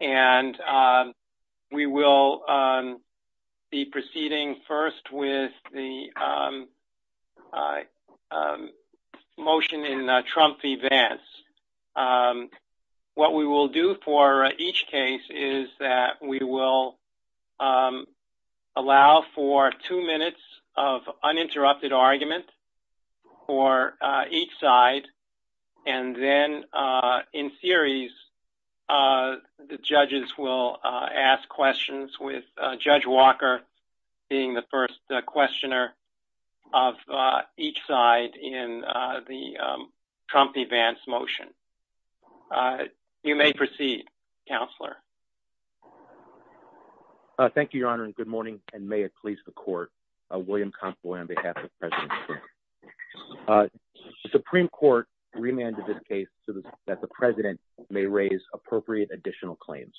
and we will be proceeding first with the motion in Trump v. Vance. What we will do for each case is that we will allow for two minutes of uninterrupted argument for each side and then in series the judges will ask questions with Judge Walker being the first questioner of each side in the Trump v. Vance motion. You may proceed, Counselor. Thank you, Your Honor, and good morning and may it be a pleasure to be here today. I would like to begin with a brief summary of the case. The Supreme Court remanded this case so that the President may raise appropriate additional claims.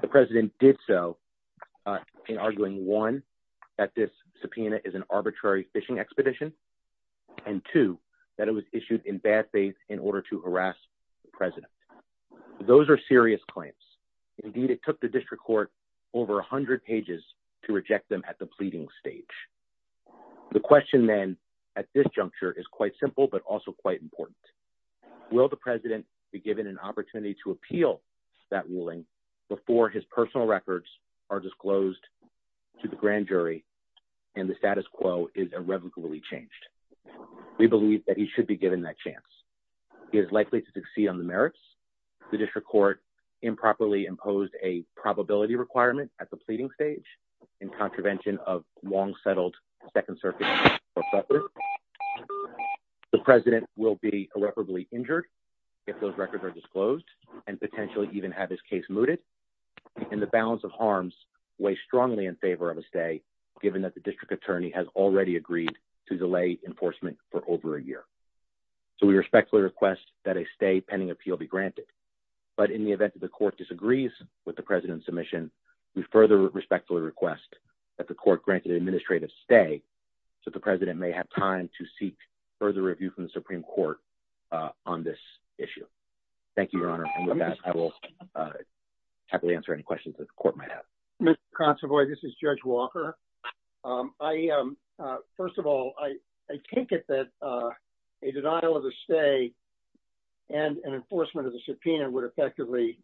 The President did so in arguing, one, that this subpoena is an arbitrary fishing expedition and, two, that it was issued in bad faith in the Supreme Court. These are serious claims. Indeed, it took the District Court over a hundred pages to reject them at the pleading stage. The question then at this juncture is quite simple but also quite important. Will the President be given an opportunity to appeal that ruling before his personal records are disclosed to the grand jury and the status quo? The Supreme Court improperly imposed a probability requirement at the pleading stage in contravention of long-settled Second Circuit law. The President will be irreparably injured if those records are disclosed and potentially even have his case mooted and the balance of harms weighs strongly in favor of a stay given that the District Attorney has already agreed to delay enforcement for over a year. So we respectfully request that a stay pending appeal be granted. But in the event that the Court disagrees with the President's submission, we further respectfully request that the Court grant an administrative stay so that the President may have time to seek further review from the Supreme Court on this issue. Thank you, Your Honor. And with that, I will happily answer any questions that the Court might have. Mr. Consovoy, this is Judge Walker. First of all, I take it that a denial of a stay and an enforcement of the subpoena would effectively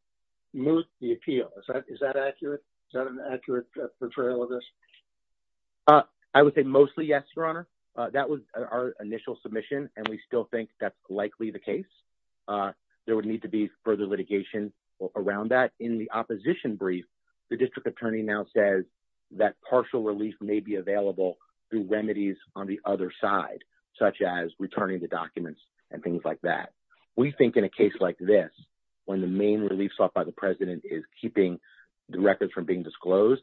moot the appeal. Is that accurate? Is that an accurate portrayal of this? I would say mostly yes, Your Honor. That was our initial submission and we still think that's likely the case. There would need to be The District Attorney now says that partial relief may be available through remedies on the other side, such as returning the documents and things like that. We think in a case like this, when the main relief sought by the President is keeping the records from being disclosed,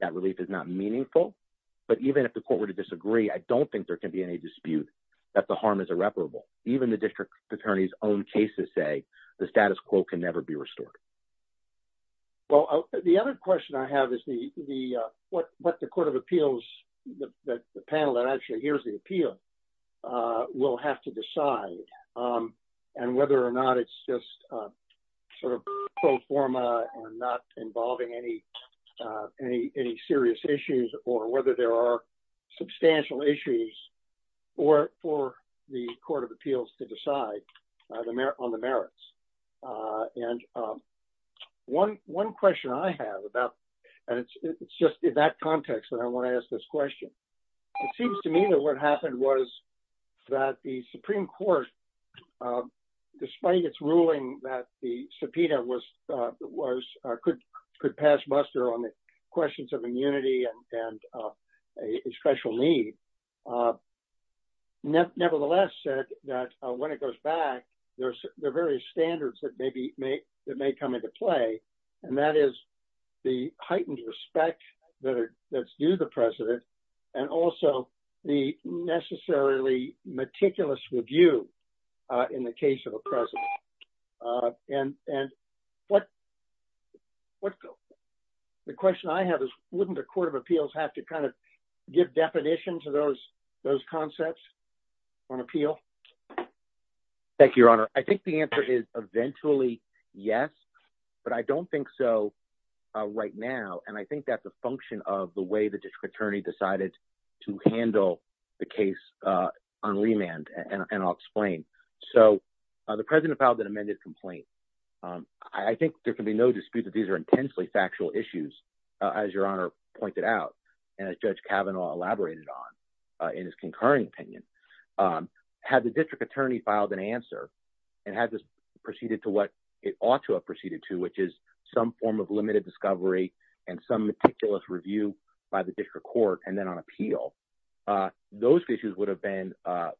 that relief is not meaningful. But even if the Court were to disagree, I don't think there can be any dispute that the harm is irreparable. Even the District Attorney's own cases say the status quo can never be restored. Well, the other question I have is what the Court of Appeals, the panel that actually hears the appeal, will have to decide and whether or not it's just sort of pro forma and not involving any serious issues or whether there are substantial issues for the Court of Appeals to decide on the merits. And one question I have, and it's just in that context that I want to ask this question. It seems to me that what happened was that the Supreme Court, despite its ruling that the subpoena could pass muster on the questions of immunity and a special need, nevertheless said that when it goes back, there are various standards that may come into play. And that is the heightened respect that's due the President and also the necessarily meticulous review in the case of the President. And the question I have is wouldn't the Court of Appeals have to kind of give definition to those concepts on appeal? Thank you, Your Honor. I think the answer is eventually yes, but I don't think so right now. And I think that's a function of the way the District Attorney decided to handle the case on remand, and I'll explain. So the President filed an amended complaint. I think there can be no dispute that these are intensely factual issues, as Your Honor pointed out and as Judge Kavanaugh elaborated on in his concurring opinion. Had the District Attorney filed an answer and had this proceeded to what it ought to have proceeded to, which is some form of limited discovery and some meticulous review by the District Court and then on appeal, those issues would have been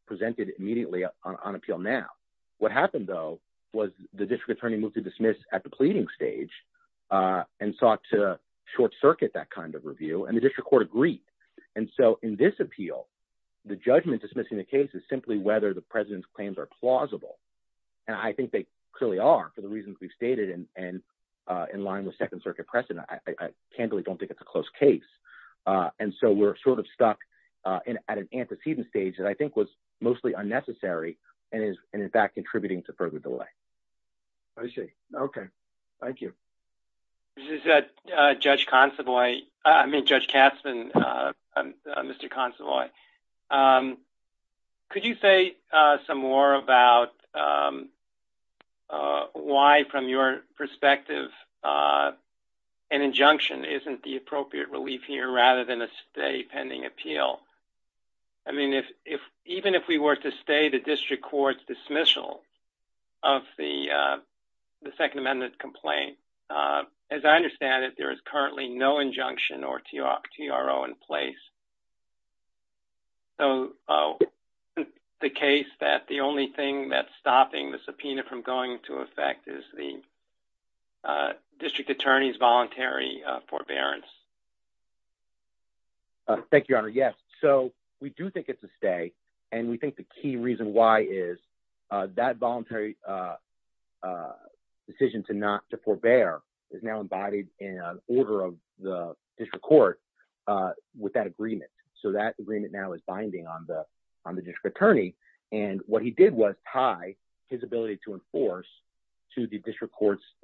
presented immediately on appeal now. What happened, though, was the District Attorney moved to dismiss at the pleading stage and sought to dismiss in the case is simply whether the President's claims are plausible. And I think they clearly are for the reasons we've stated and in line with Second Circuit precedent. I candidly don't think it's a close case. And so we're sort of stuck at an antecedent stage that I think was mostly unnecessary and is, in fact, contributing to further delay. I see. Okay. Thank you. Judge Consovoy, I mean, Judge Katzman, Mr. Consovoy, could you say some more about why, from your perspective, an injunction isn't the appropriate relief here rather than a stay pending appeal? I mean, if even if we were to stay, the District Court's dismissal of the Second Amendment complaint, as I understand it, there is currently no injunction or TRO in place. So isn't the case that the only thing that's stopping the subpoena from going into effect is the District Attorney's voluntary forbearance? Thank you, Your Honor. Yes. So we do think it's a stay. And we think the key reason why is that voluntary decision to not to forbear is now embodied in an order of the District Court with that agreement. So that agreement now is binding on the District Attorney. And what he did was tie his ability to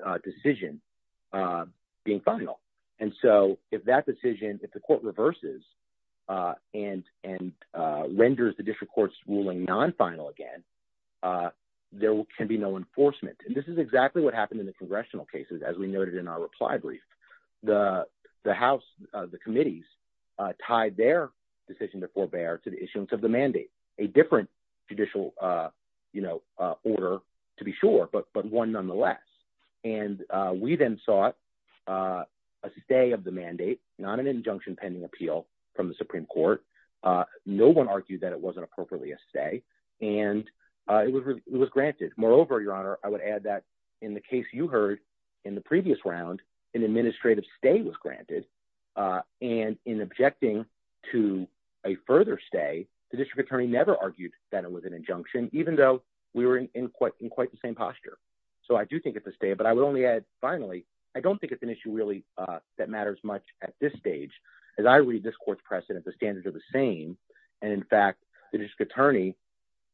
that decision. If the court reverses and renders the District Court's ruling non-final again, there can be no enforcement. And this is exactly what happened in the congressional cases, as we noted in our reply brief. The House, the committees, tied their decision to forbear to the issuance of the mandate, a different judicial order, to be sure, but one nonetheless. And we then sought a stay of the mandate, not an injunction pending appeal from the Supreme Court. No one argued that it wasn't appropriately a stay. And it was granted. Moreover, Your Honor, I would add that in the case you heard in the previous round, an administrative stay was granted. And in objecting to a further stay, the District Attorney never argued that it was an injunction, even though we were in quite the same posture. So I do think it's a stay. But I would only add, finally, I don't think it's an issue really that matters much at this stage. As I read this court's precedent, the standards are the same. And in fact, the District Attorney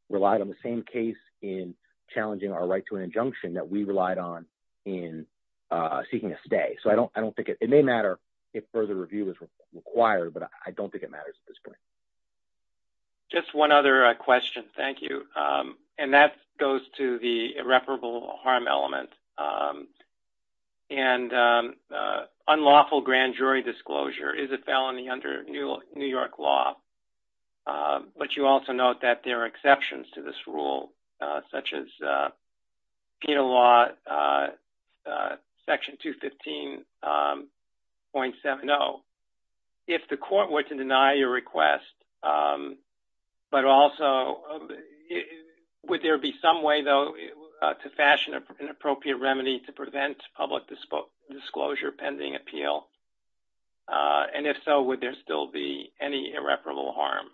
relied on the same case in challenging our right to an injunction that we relied on in seeking a stay. So I don't think it may matter if further review is required, but I don't think it matters at this point. Just one other question. Thank you. And that goes to the irreparable harm element. And unlawful grand jury disclosure is a felony under New York law. But you also note that there are exceptions to this rule, such as penal law section 215.70. If the court were to deny your request, but also would there be some way, though, to fashion an appropriate remedy to prevent public disclosure pending appeal? And if so, would there still be any irreparable harm?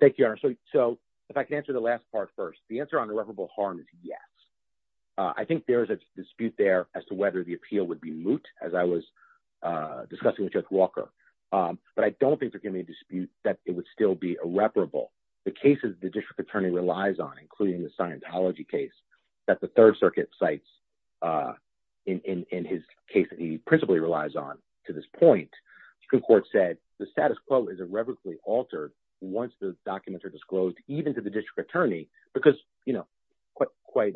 Thank you, Your Honor. So if I could answer the last part first. The answer on irreparable harm is yes. I think there is a dispute there as to whether the appeal would be moot, as I was discussing with Judge Walker. But I don't think there can be a dispute that it would still be irreparable. The cases the District Attorney relies on, including the Scientology case that the Third Circuit cites in his case that he principally relies on to this point, the Supreme Court said the status quo is irrevocably altered once the documents are disclosed, even to the District Attorney. Because quite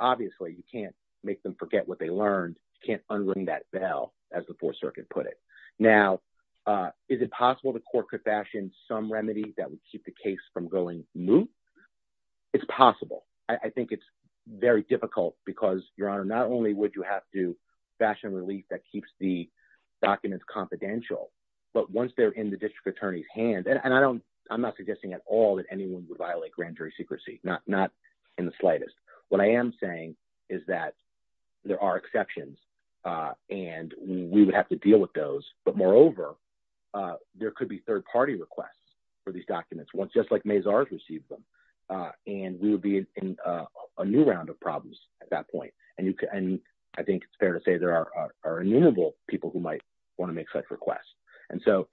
obviously, you can't make them forget what they learned. You can't unring that bell, as the Fourth Circuit put it. Now, is it possible the court could fashion some remedy that would keep the case from going moot? It's possible. I think it's very difficult because, Your Honor, not only would you have to fashion a relief that keeps the documents confidential, but once they're in the District Attorney's hand and I'm not suggesting at all that anyone would violate grand jury secrecy, not in the slightest. What I am saying is that there are exceptions, and we would have to deal with those. But moreover, there could be third-party requests for these documents, just like Mazars received them. And we would be in a new round of problems at that point. And I think it's fair to say there are innumerable people who might want to make such requests. And so,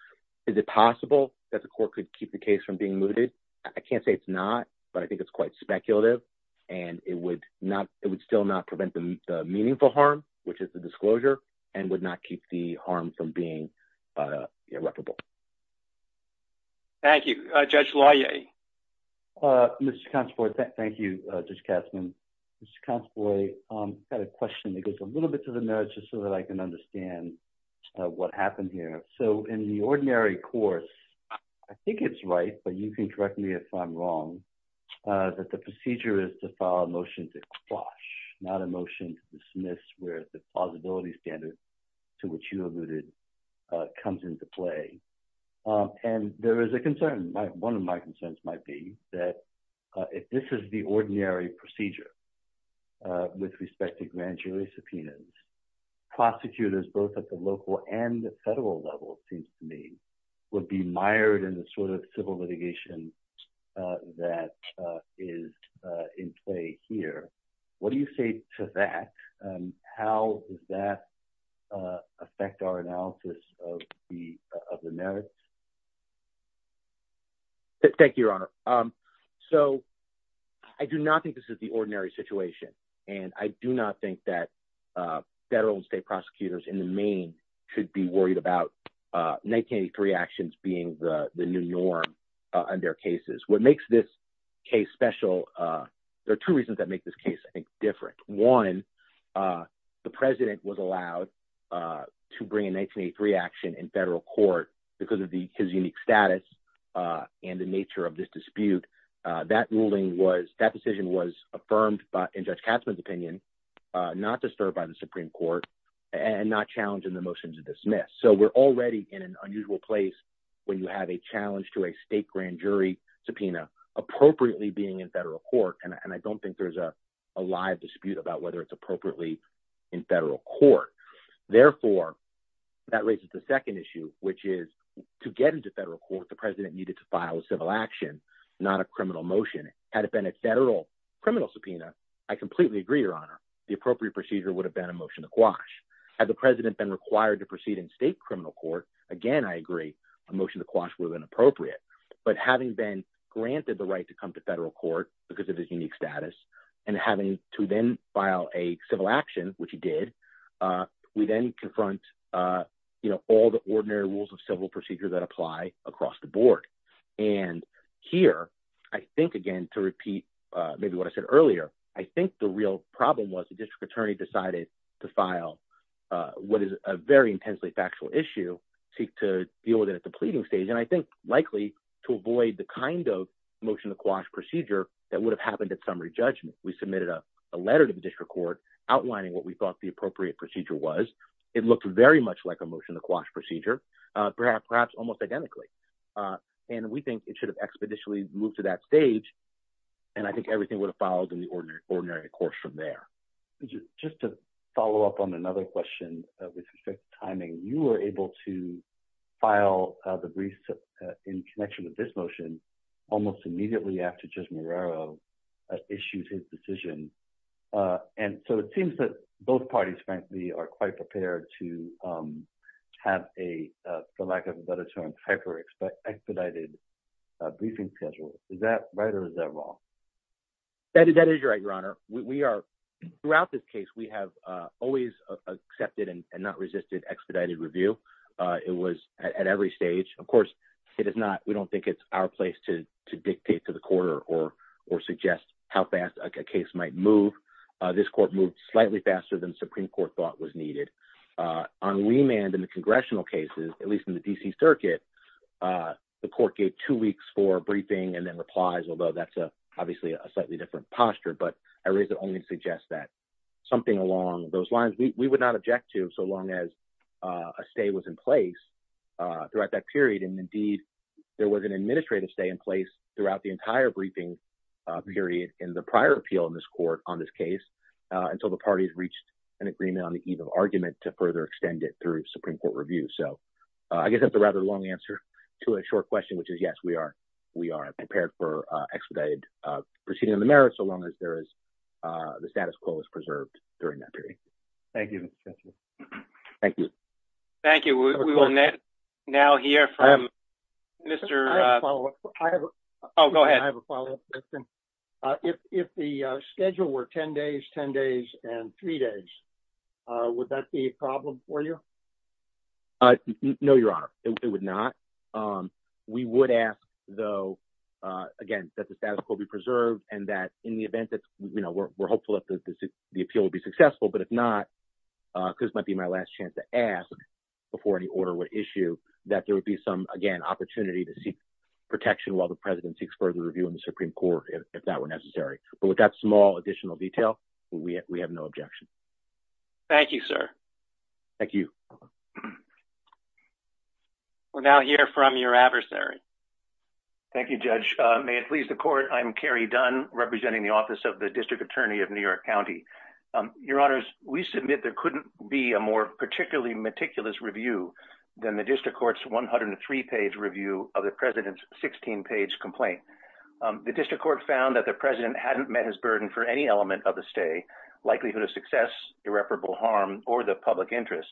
is it possible that the court could keep the case from being mooted? I can't say it's not, but I think it's quite speculative. And it would still not prevent the meaningful harm, which is the disclosure, and would not keep the harm from being irreparable. Thank you. Judge Loyer? Mr. Consovoy, thank you, Judge Katzmann. Mr. Consovoy, I've got a question that goes a little bit to the nerds just so that I can understand what happened here. So, in the ordinary course, I think it's right, but you can correct me if I'm wrong, that the procedure is to file a motion to quash, not a motion to dismiss where the plausibility standard to which you alluded comes into play. And there is a concern. One of my concerns might be that if this is the ordinary procedure with respect to grand jury subpoenas, prosecutors, both at the local and the federal level, it seems to me, would be mired in the sort of civil litigation that is in play here. What do you say to that? How does that affect our analysis of the merits? Thank you, Your Honor. So, I do not think this is the ordinary situation. And I do not think that federal and state prosecutors in the main should be worried about 1983 actions being the new norm on their cases. What makes this case special? There are two reasons that make this case, I think, different. One, the president was allowed to bring a 1983 action in federal court because of his unique status and the nature of this dispute. That ruling was, that decision was affirmed in Judge Katzmann's opinion, not disturbed by the Supreme Court, and not challenging the motion to dismiss. So, we're already in an unusual place when you have a challenge to a state grand jury subpoena appropriately being in federal court. And I don't think there's a live dispute about whether it's appropriately in federal court. Therefore, that raises the second issue, which is to get into federal court, the president needed to file a civil action, not a criminal motion. Had it been a federal criminal subpoena, I completely agree, Your Honor, the appropriate procedure would have been a motion to quash. Had the president been required to proceed in state criminal court, again, I agree, a motion to quash would have been appropriate. But having been granted the right to come to federal court because of his unique status and having to then file a civil action, which he did, we then confront, you know, all the ordinary rules of civil procedure that apply across the board. And here, I think, again, to repeat maybe what I said earlier, I think the real problem was the district attorney decided to file what is a very intensely factual issue, seek to deal with it at the pleading stage, and I think likely to avoid the kind of motion to quash procedure that would have happened at summary judgment. We submitted a letter to the district court outlining what we thought the appropriate procedure was. It looked very much like a motion to quash procedure, perhaps almost identically. And we think it should have expeditiously moved to that stage, and I think everything would have followed in the ordinary course from there. Just to follow up on another question with respect to timing, you were able to file the brief in connection with this motion almost immediately after Judge Marrero issued his decision. And so it seems that both parties, frankly, are quite prepared to have a, for lack of a better term, hyper-expedited briefing schedule. Is that right or is that wrong? That is right, Your Honor. Throughout this case, we have always accepted and not resisted expedited review. It was at every stage. Of course, we don't think it's our place to dictate to the court or suggest how fast a case might move. This court moved slightly faster than the Supreme Court thought was needed. On Weymand in the congressional cases, at least in the D.C. Circuit, the court gave two weeks for a briefing and then replies, although that's obviously a slightly different posture. But I raise it only to suggest that something along those lines we would not object to so long as a stay was in place throughout that period. And indeed, there was an administrative stay in place throughout the entire briefing period in the prior appeal in this court on this case until the parties reached an agreement on the eve of argument to further extend it through Supreme Court review. So I guess that's a rather long answer to a short question, which is, yes, we are. We are prepared for expedited proceeding in the merit so long as there is the status quo is preserved during that period. Thank you. Thank you. Thank you. We will now hear from Mr. Oh, go ahead. If the schedule were 10 days, 10 days and three days, would that be a problem for you? No, Your Honor, it would not. We would ask, though, again, that the status quo be preserved and that in the event that we're hopeful that the appeal will be successful. But if not, this might be my last chance to ask before any order would issue that there would be some, again, opportunity to seek protection while the president seeks further review in the Supreme Court, if that were necessary. But with that small additional detail, we have no objection. Thank you, sir. Thank you. We're now here from your adversary. Thank you, Judge. May it please the court. I'm Kerry Dunn representing the office of the district attorney of New York County. Your honors, we submit there couldn't be a more particularly meticulous review than the district courts. One hundred and three page review of the president's 16 page complaint. The district court found that the president hadn't met his burden for any element of the stay likelihood of success, irreparable harm or the public interest.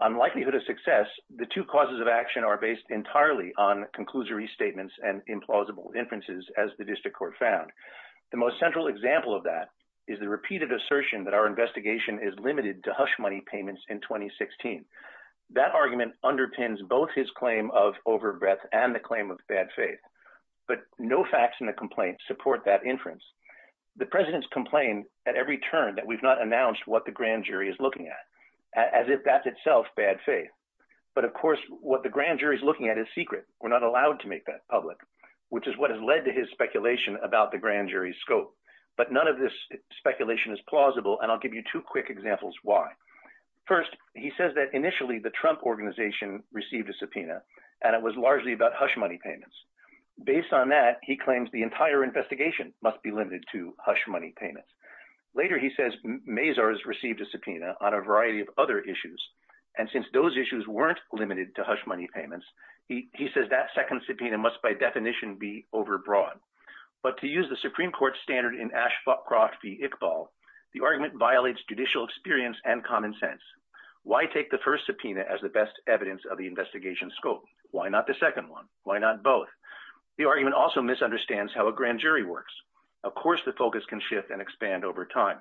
Unlikelihood of success. The two causes of action are based entirely on conclusory statements and implausible inferences, as the district court found. The most central example of that is the repeated assertion that our investigation is limited to hush money payments in 2016. That argument underpins both his claim of overbreath and the claim of bad faith. But no facts in the complaint support that inference. The president's complaint at every turn that we've not announced what the grand jury is looking at, as if that's itself bad faith. But, of course, what the grand jury is looking at is secret. We're not allowed to make that public, which is what has led to his speculation about the grand jury scope. But none of this speculation is plausible. And I'll give you two quick examples. First, he says that initially the Trump organization received a subpoena and it was largely about hush money payments. Based on that, he claims the entire investigation must be limited to hush money payments. Later, he says Mazars received a subpoena on a variety of other issues. And since those issues weren't limited to hush money payments, he says that second subpoena must by definition be overbroad. But to use the Supreme Court standard in Ashcroft v. Iqbal, the argument violates judicial experience and common sense. Why take the first subpoena as the best evidence of the investigation scope? Why not the second one? Why not both? The argument also misunderstands how a grand jury works. Of course, the focus can shift and expand over time.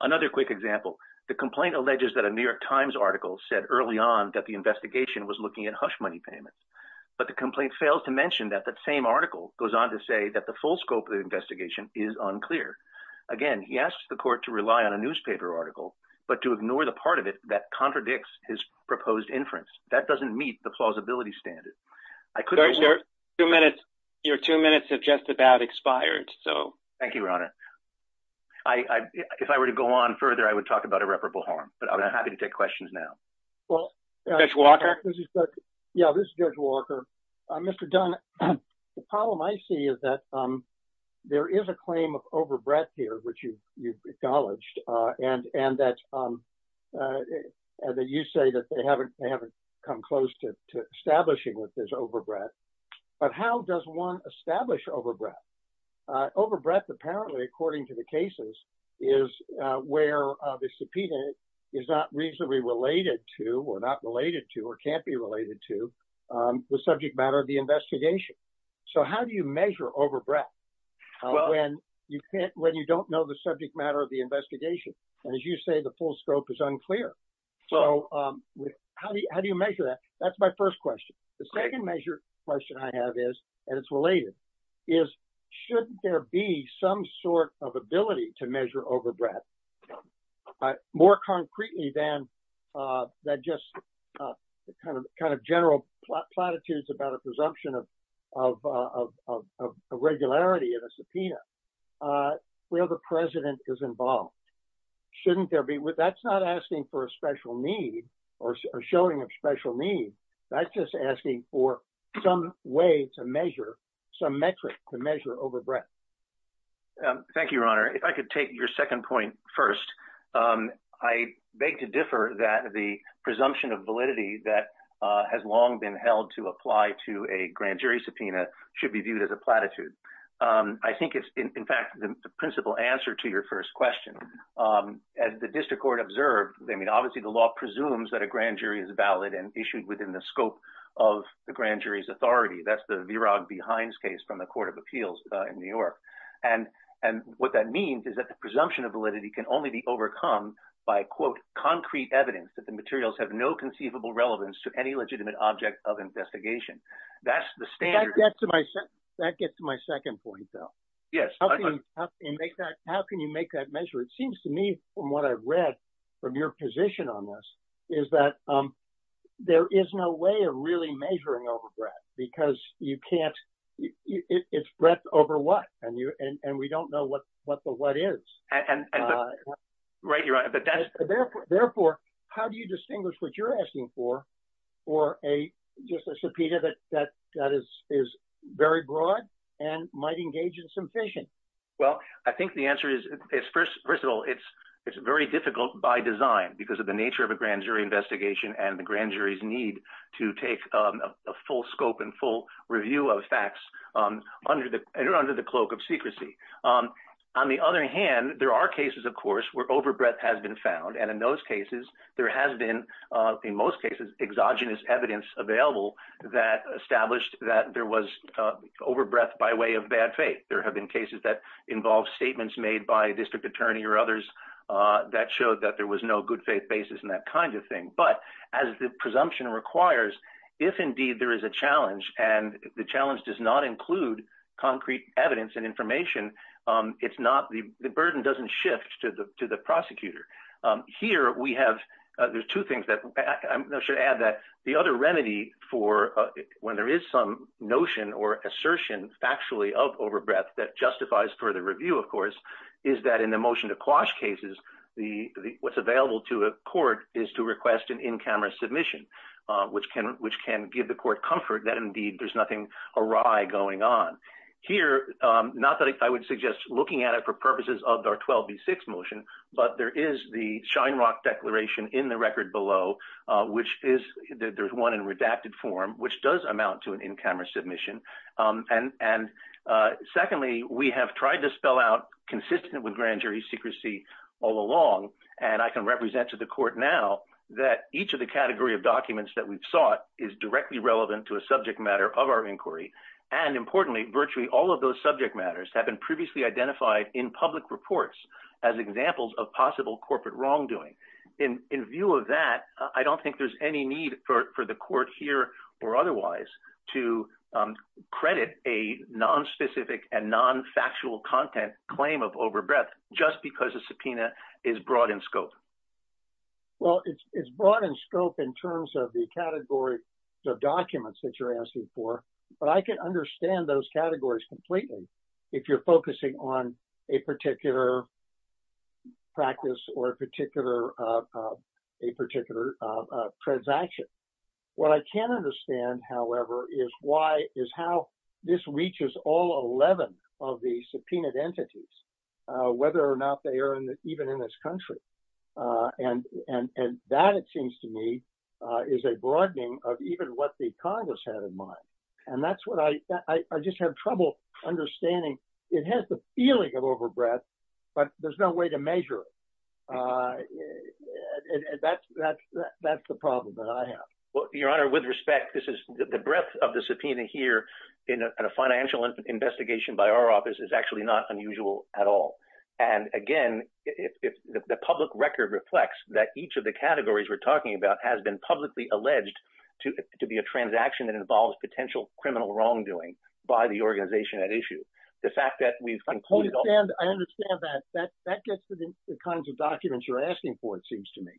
Another quick example, the complaint alleges that a New York Times article said early on that the investigation was looking at hush money payments. But the complaint fails to mention that the same article goes on to say that the full scope of the investigation is unclear. Again, he asks the court to rely on a newspaper article, but to ignore the part of it that contradicts his proposed inference. That doesn't meet the plausibility standard. Your two minutes have just about expired. Thank you, Your Honor. If I were to go on further, I would talk about irreparable harm. But I'm happy to take questions now. Judge Walker? Yeah, this is Judge Walker. Mr. Dunn, the problem I see is that there is a claim of overbreadth here, which you've acknowledged. And that you say that they haven't come close to establishing what is overbreadth. But how does one establish overbreadth? Overbreadth, apparently, according to the cases, is where the subpoena is not reasonably related to or not related to or can't be related to the subject matter of the investigation. So how do you measure overbreadth when you don't know the subject matter of the investigation? And as you say, the full scope is unclear. So how do you measure that? That's my first question. The second measure question I have is, and it's related, is shouldn't there be some sort of ability to measure overbreadth? More concretely than that just kind of general platitudes about a presumption of irregularity in a subpoena, where the president is involved. That's not asking for a special need or showing a special need. That's just asking for some way to measure, some metric to measure overbreadth. Thank you, Your Honor. If I could take your second point first. I beg to differ that the presumption of validity that has long been held to apply to a grand jury subpoena should be viewed as a platitude. I think it's, in fact, the principal answer to your first question. As the district court observed, I mean, obviously the law presumes that a grand jury is valid and issued within the scope of the grand jury's authority. That's the Virag B. Hines case from the Court of Appeals in New York. And what that means is that the presumption of validity can only be overcome by, quote, concrete evidence that the materials have no conceivable relevance to any legitimate object of investigation. That's the standard. That gets to my second point, though. Yes. How can you make that measure? It seems to me from what I've read from your position on this is that there is no way of really measuring overbreadth because you can't – it's breadth over what? And we don't know what the what is. Right, Your Honor. Therefore, how do you distinguish what you're asking for or a subpoena that is very broad and might engage in some fission? Well, I think the answer is, first of all, it's very difficult by design because of the nature of a grand jury investigation and the grand jury's need to take a full scope and full review of facts under the cloak of secrecy. On the other hand, there are cases, of course, where overbreadth has been found. And in those cases, there has been, in most cases, exogenous evidence available that established that there was overbreadth by way of bad faith. There have been cases that involve statements made by a district attorney or others that showed that there was no good faith basis and that kind of thing. But as the presumption requires, if indeed there is a challenge and the challenge does not include concrete evidence and information, it's not – the burden doesn't shift to the prosecutor. Here, we have – there's two things that I should add that the other remedy for when there is some notion or assertion factually of overbreadth that justifies further review, of course, is that in the motion to quash cases, what's available to a court is to request an in-camera submission, which can give the court comfort that indeed there's nothing awry going on. Here, not that I would suggest looking at it for purposes of our 12B6 motion, but there is the Shine Rock Declaration in the record below, which is – there's one in redacted form, which does amount to an in-camera submission. And secondly, we have tried to spell out consistent with grand jury secrecy all along, and I can represent to the court now that each of the category of documents that we've sought is directly relevant to a subject matter of our inquiry. And importantly, virtually all of those subject matters have been previously identified in public reports as examples of possible corporate wrongdoing. In view of that, I don't think there's any need for the court here or otherwise to credit a nonspecific and nonfactual content claim of overbreadth just because a subpoena is broad in scope. Well, it's broad in scope in terms of the categories of documents that you're asking for, but I can understand those categories completely if you're focusing on a particular practice or a particular transaction. What I can understand, however, is why – is how this reaches all 11 of the subpoenaed entities, whether or not they are even in this country. And that, it seems to me, is a broadening of even what the Congress had in mind. And that's what I – I just have trouble understanding. It has the feeling of overbreadth, but there's no way to measure it. That's the problem that I have. Well, Your Honor, with respect, this is – the breadth of the subpoena here in a financial investigation by our office is actually not unusual at all. And again, the public record reflects that each of the categories we're talking about has been publicly alleged to be a transaction that involves potential criminal wrongdoing by the organization at issue. The fact that we've concluded all – I understand. I understand that. That gets to the kinds of documents you're asking for, it seems to me.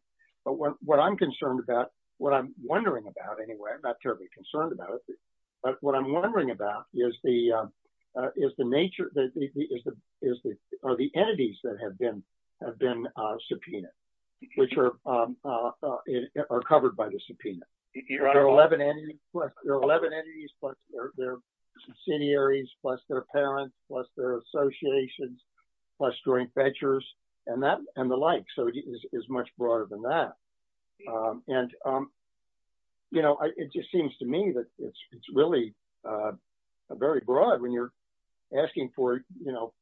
But what I'm concerned about – what I'm wondering about, anyway, I'm not terribly concerned about it, but what I'm wondering about is the nature – is the – are the entities that have been subpoenaed, which are covered by the subpoena. There are 11 entities, plus their subsidiaries, plus their parents, plus their associations, plus joint ventures, and the like. So it is much broader than that. And, you know, it just seems to me that it's really very broad when you're asking for, you know,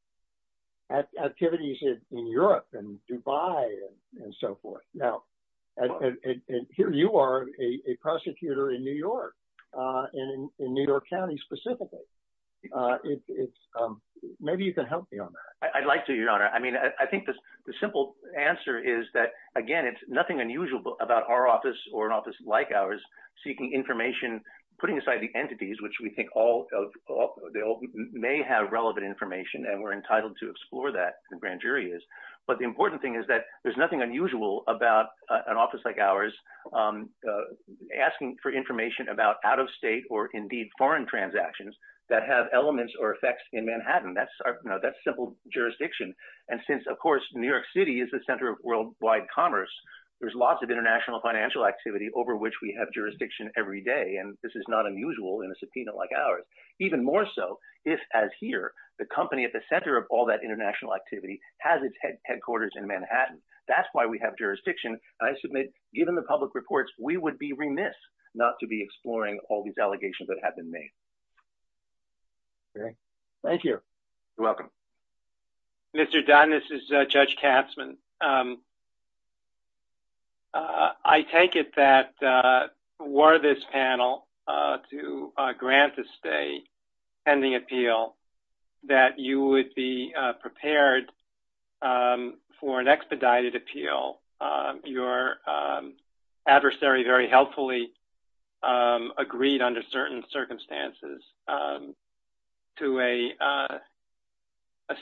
activities in Europe and Dubai and so forth. And here you are, a prosecutor in New York, in New York County specifically. Maybe you can help me on that. I'd like to, Your Honor. I mean, I think the simple answer is that, again, it's nothing unusual about our office or an office like ours seeking information, putting aside the entities, which we think all – may have relevant information, and we're entitled to explore that, the grand jury is. But the important thing is that there's nothing unusual about an office like ours asking for information about out-of-state or, indeed, foreign transactions that have elements or effects in Manhattan. That's our – you know, that's simple jurisdiction. And since, of course, New York City is the center of worldwide commerce, there's lots of international financial activity over which we have jurisdiction every day, and this is not unusual in a subpoena like ours. Even more so if, as here, the company at the center of all that international activity has its headquarters in Manhattan. That's why we have jurisdiction. And I submit, given the public reports, we would be remiss not to be exploring all these allegations that have been made. Thank you. You're welcome. Mr. Dunn, this is Judge Katzmann. I take it that were this panel to grant this day pending appeal, that you would be prepared for an expedited appeal, your adversary very helpfully agreed under certain circumstances to a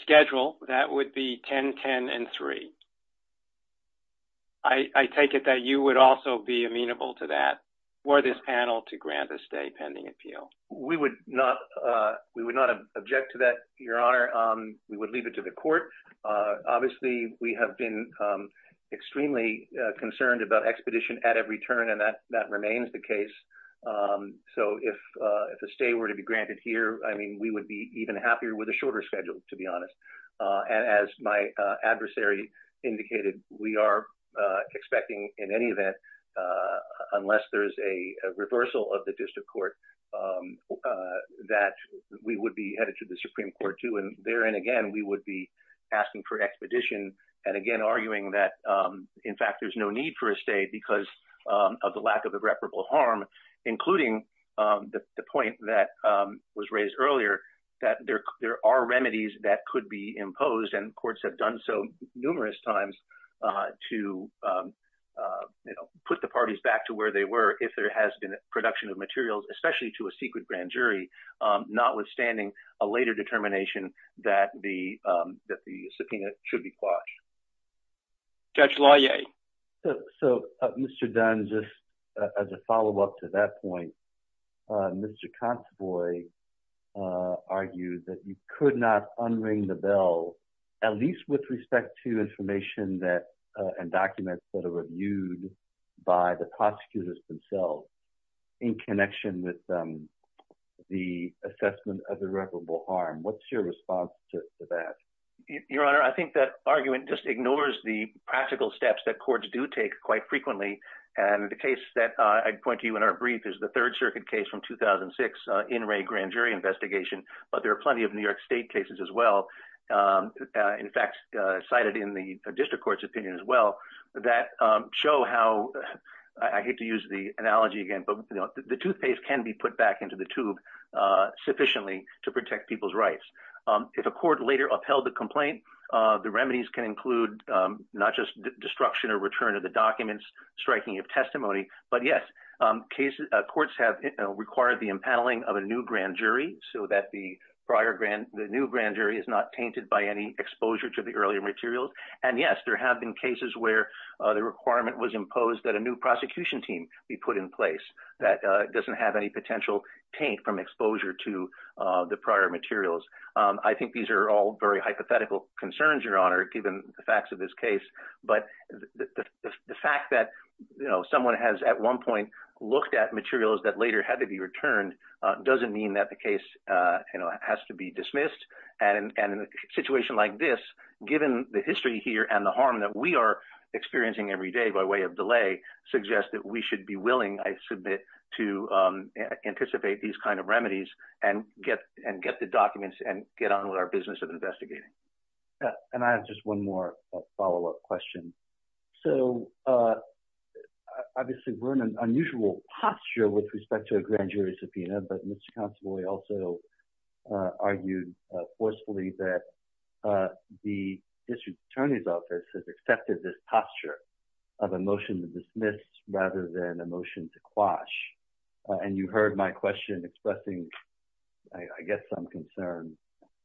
schedule that would be 10-10-3. I take it that you would also be amenable to that were this panel to grant a stay pending appeal. We would not object to that, Your Honor. We would leave it to the court. Obviously, we have been extremely concerned about expedition at every turn, and that remains the case. So if a stay were to be granted here, I mean, we would be even happier with a shorter schedule, to be honest. And as my adversary indicated, we are expecting in any event, unless there is a reversal of the district court, that we would be headed to the Supreme Court, too. Therein, again, we would be asking for expedition, and again, arguing that, in fact, there's no need for a stay because of the lack of irreparable harm, including the point that was raised earlier, that there are remedies that could be imposed, and courts have done so numerous times to put the parties back to where they were if there has been a production of materials, especially to a secret grand jury, notwithstanding a later determination that the subpoena should be quashed. Judge Laue? So, Mr. Dunn, just as a follow-up to that point, Mr. Conteboy argued that you could not unring the bell, at least with respect to information and documents that are reviewed by the prosecutors themselves, in connection with the assessment of irreparable harm. What's your response to that? Your Honor, I think that argument just ignores the practical steps that courts do take quite frequently, and the case that I point to you in our brief is the Third Circuit case from 2006, in-ray grand jury investigation, but there are plenty of New York State cases as well, in fact, cited in the district court's opinion as well, that show how – I hate to use the analogy again, but the toothpaste can be put back into the tube sufficiently to protect people's rights. If a court later upheld the complaint, the remedies can include not just destruction or return of the documents, striking of testimony, but yes, courts have required the impaneling of a new grand jury so that the new grand jury is not tainted by any exposure to the earlier materials, and yes, there have been cases where the requirement was imposed that a new prosecution team be put in place that doesn't have any potential taint from exposure to the prior materials. I think these are all very hypothetical concerns, Your Honor, given the facts of this case, but the fact that someone has at one point looked at materials that later had to be returned doesn't mean that the case has to be dismissed. And in a situation like this, given the history here and the harm that we are experiencing every day by way of delay, suggests that we should be willing, I submit, to anticipate these kind of remedies and get the documents and get on with our business of investigating. And I have just one more follow-up question. So, obviously, we're in an unusual posture with respect to a grand jury subpoena, but Mr. Constable, we also argued forcefully that the district attorney's office has accepted this posture of a motion to dismiss rather than a motion to quash. And you heard my question expressing, I guess, some concern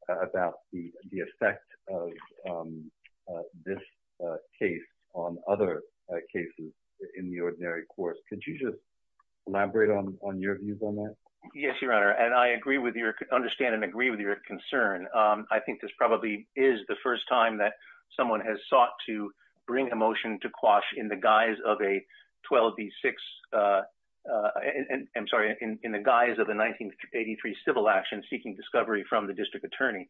about the effect of this case on other cases in the ordinary course. Could you just elaborate on your views on that? Yes, Your Honor, and I agree with your – understand and agree with your concern. I think this probably is the first time that someone has sought to bring a motion to quash in the guise of a 12B6 – I'm sorry, in the guise of a 1983 civil action seeking discovery from the district attorney.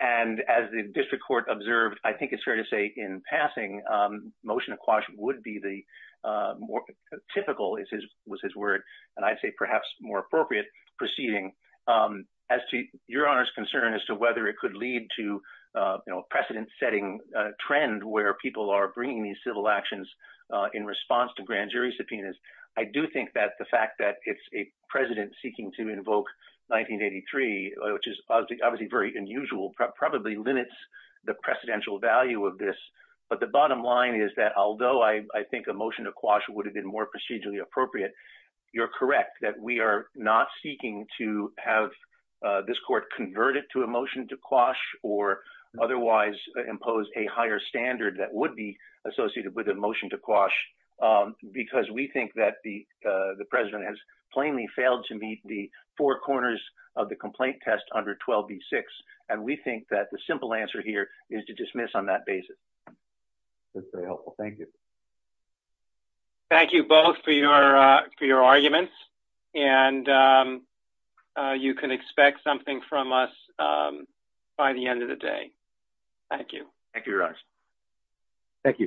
And as the district court observed, I think it's fair to say in passing, motion to quash would be the more typical, was his word, and I'd say perhaps more appropriate proceeding. As to Your Honor's concern as to whether it could lead to a precedent-setting trend where people are bringing these civil actions in response to grand jury subpoenas, I do think that the fact that it's a precedent seeking to invoke 1983, which is obviously very unusual, probably limits the precedential value of this. But the bottom line is that although I think a motion to quash would have been more procedurally appropriate, you're correct that we are not seeking to have this court convert it to a motion to quash or otherwise impose a higher standard that would be associated with a motion to quash because we think that the President has plainly failed to meet the four corners of the complaint test under 12B6, and we think that the simple answer here is to dismiss on that basis. That's very helpful. Thank you. Thank you both for your arguments, and you can expect something from us by the end of the day. Thank you. Thank you, Your Honor. Thank you.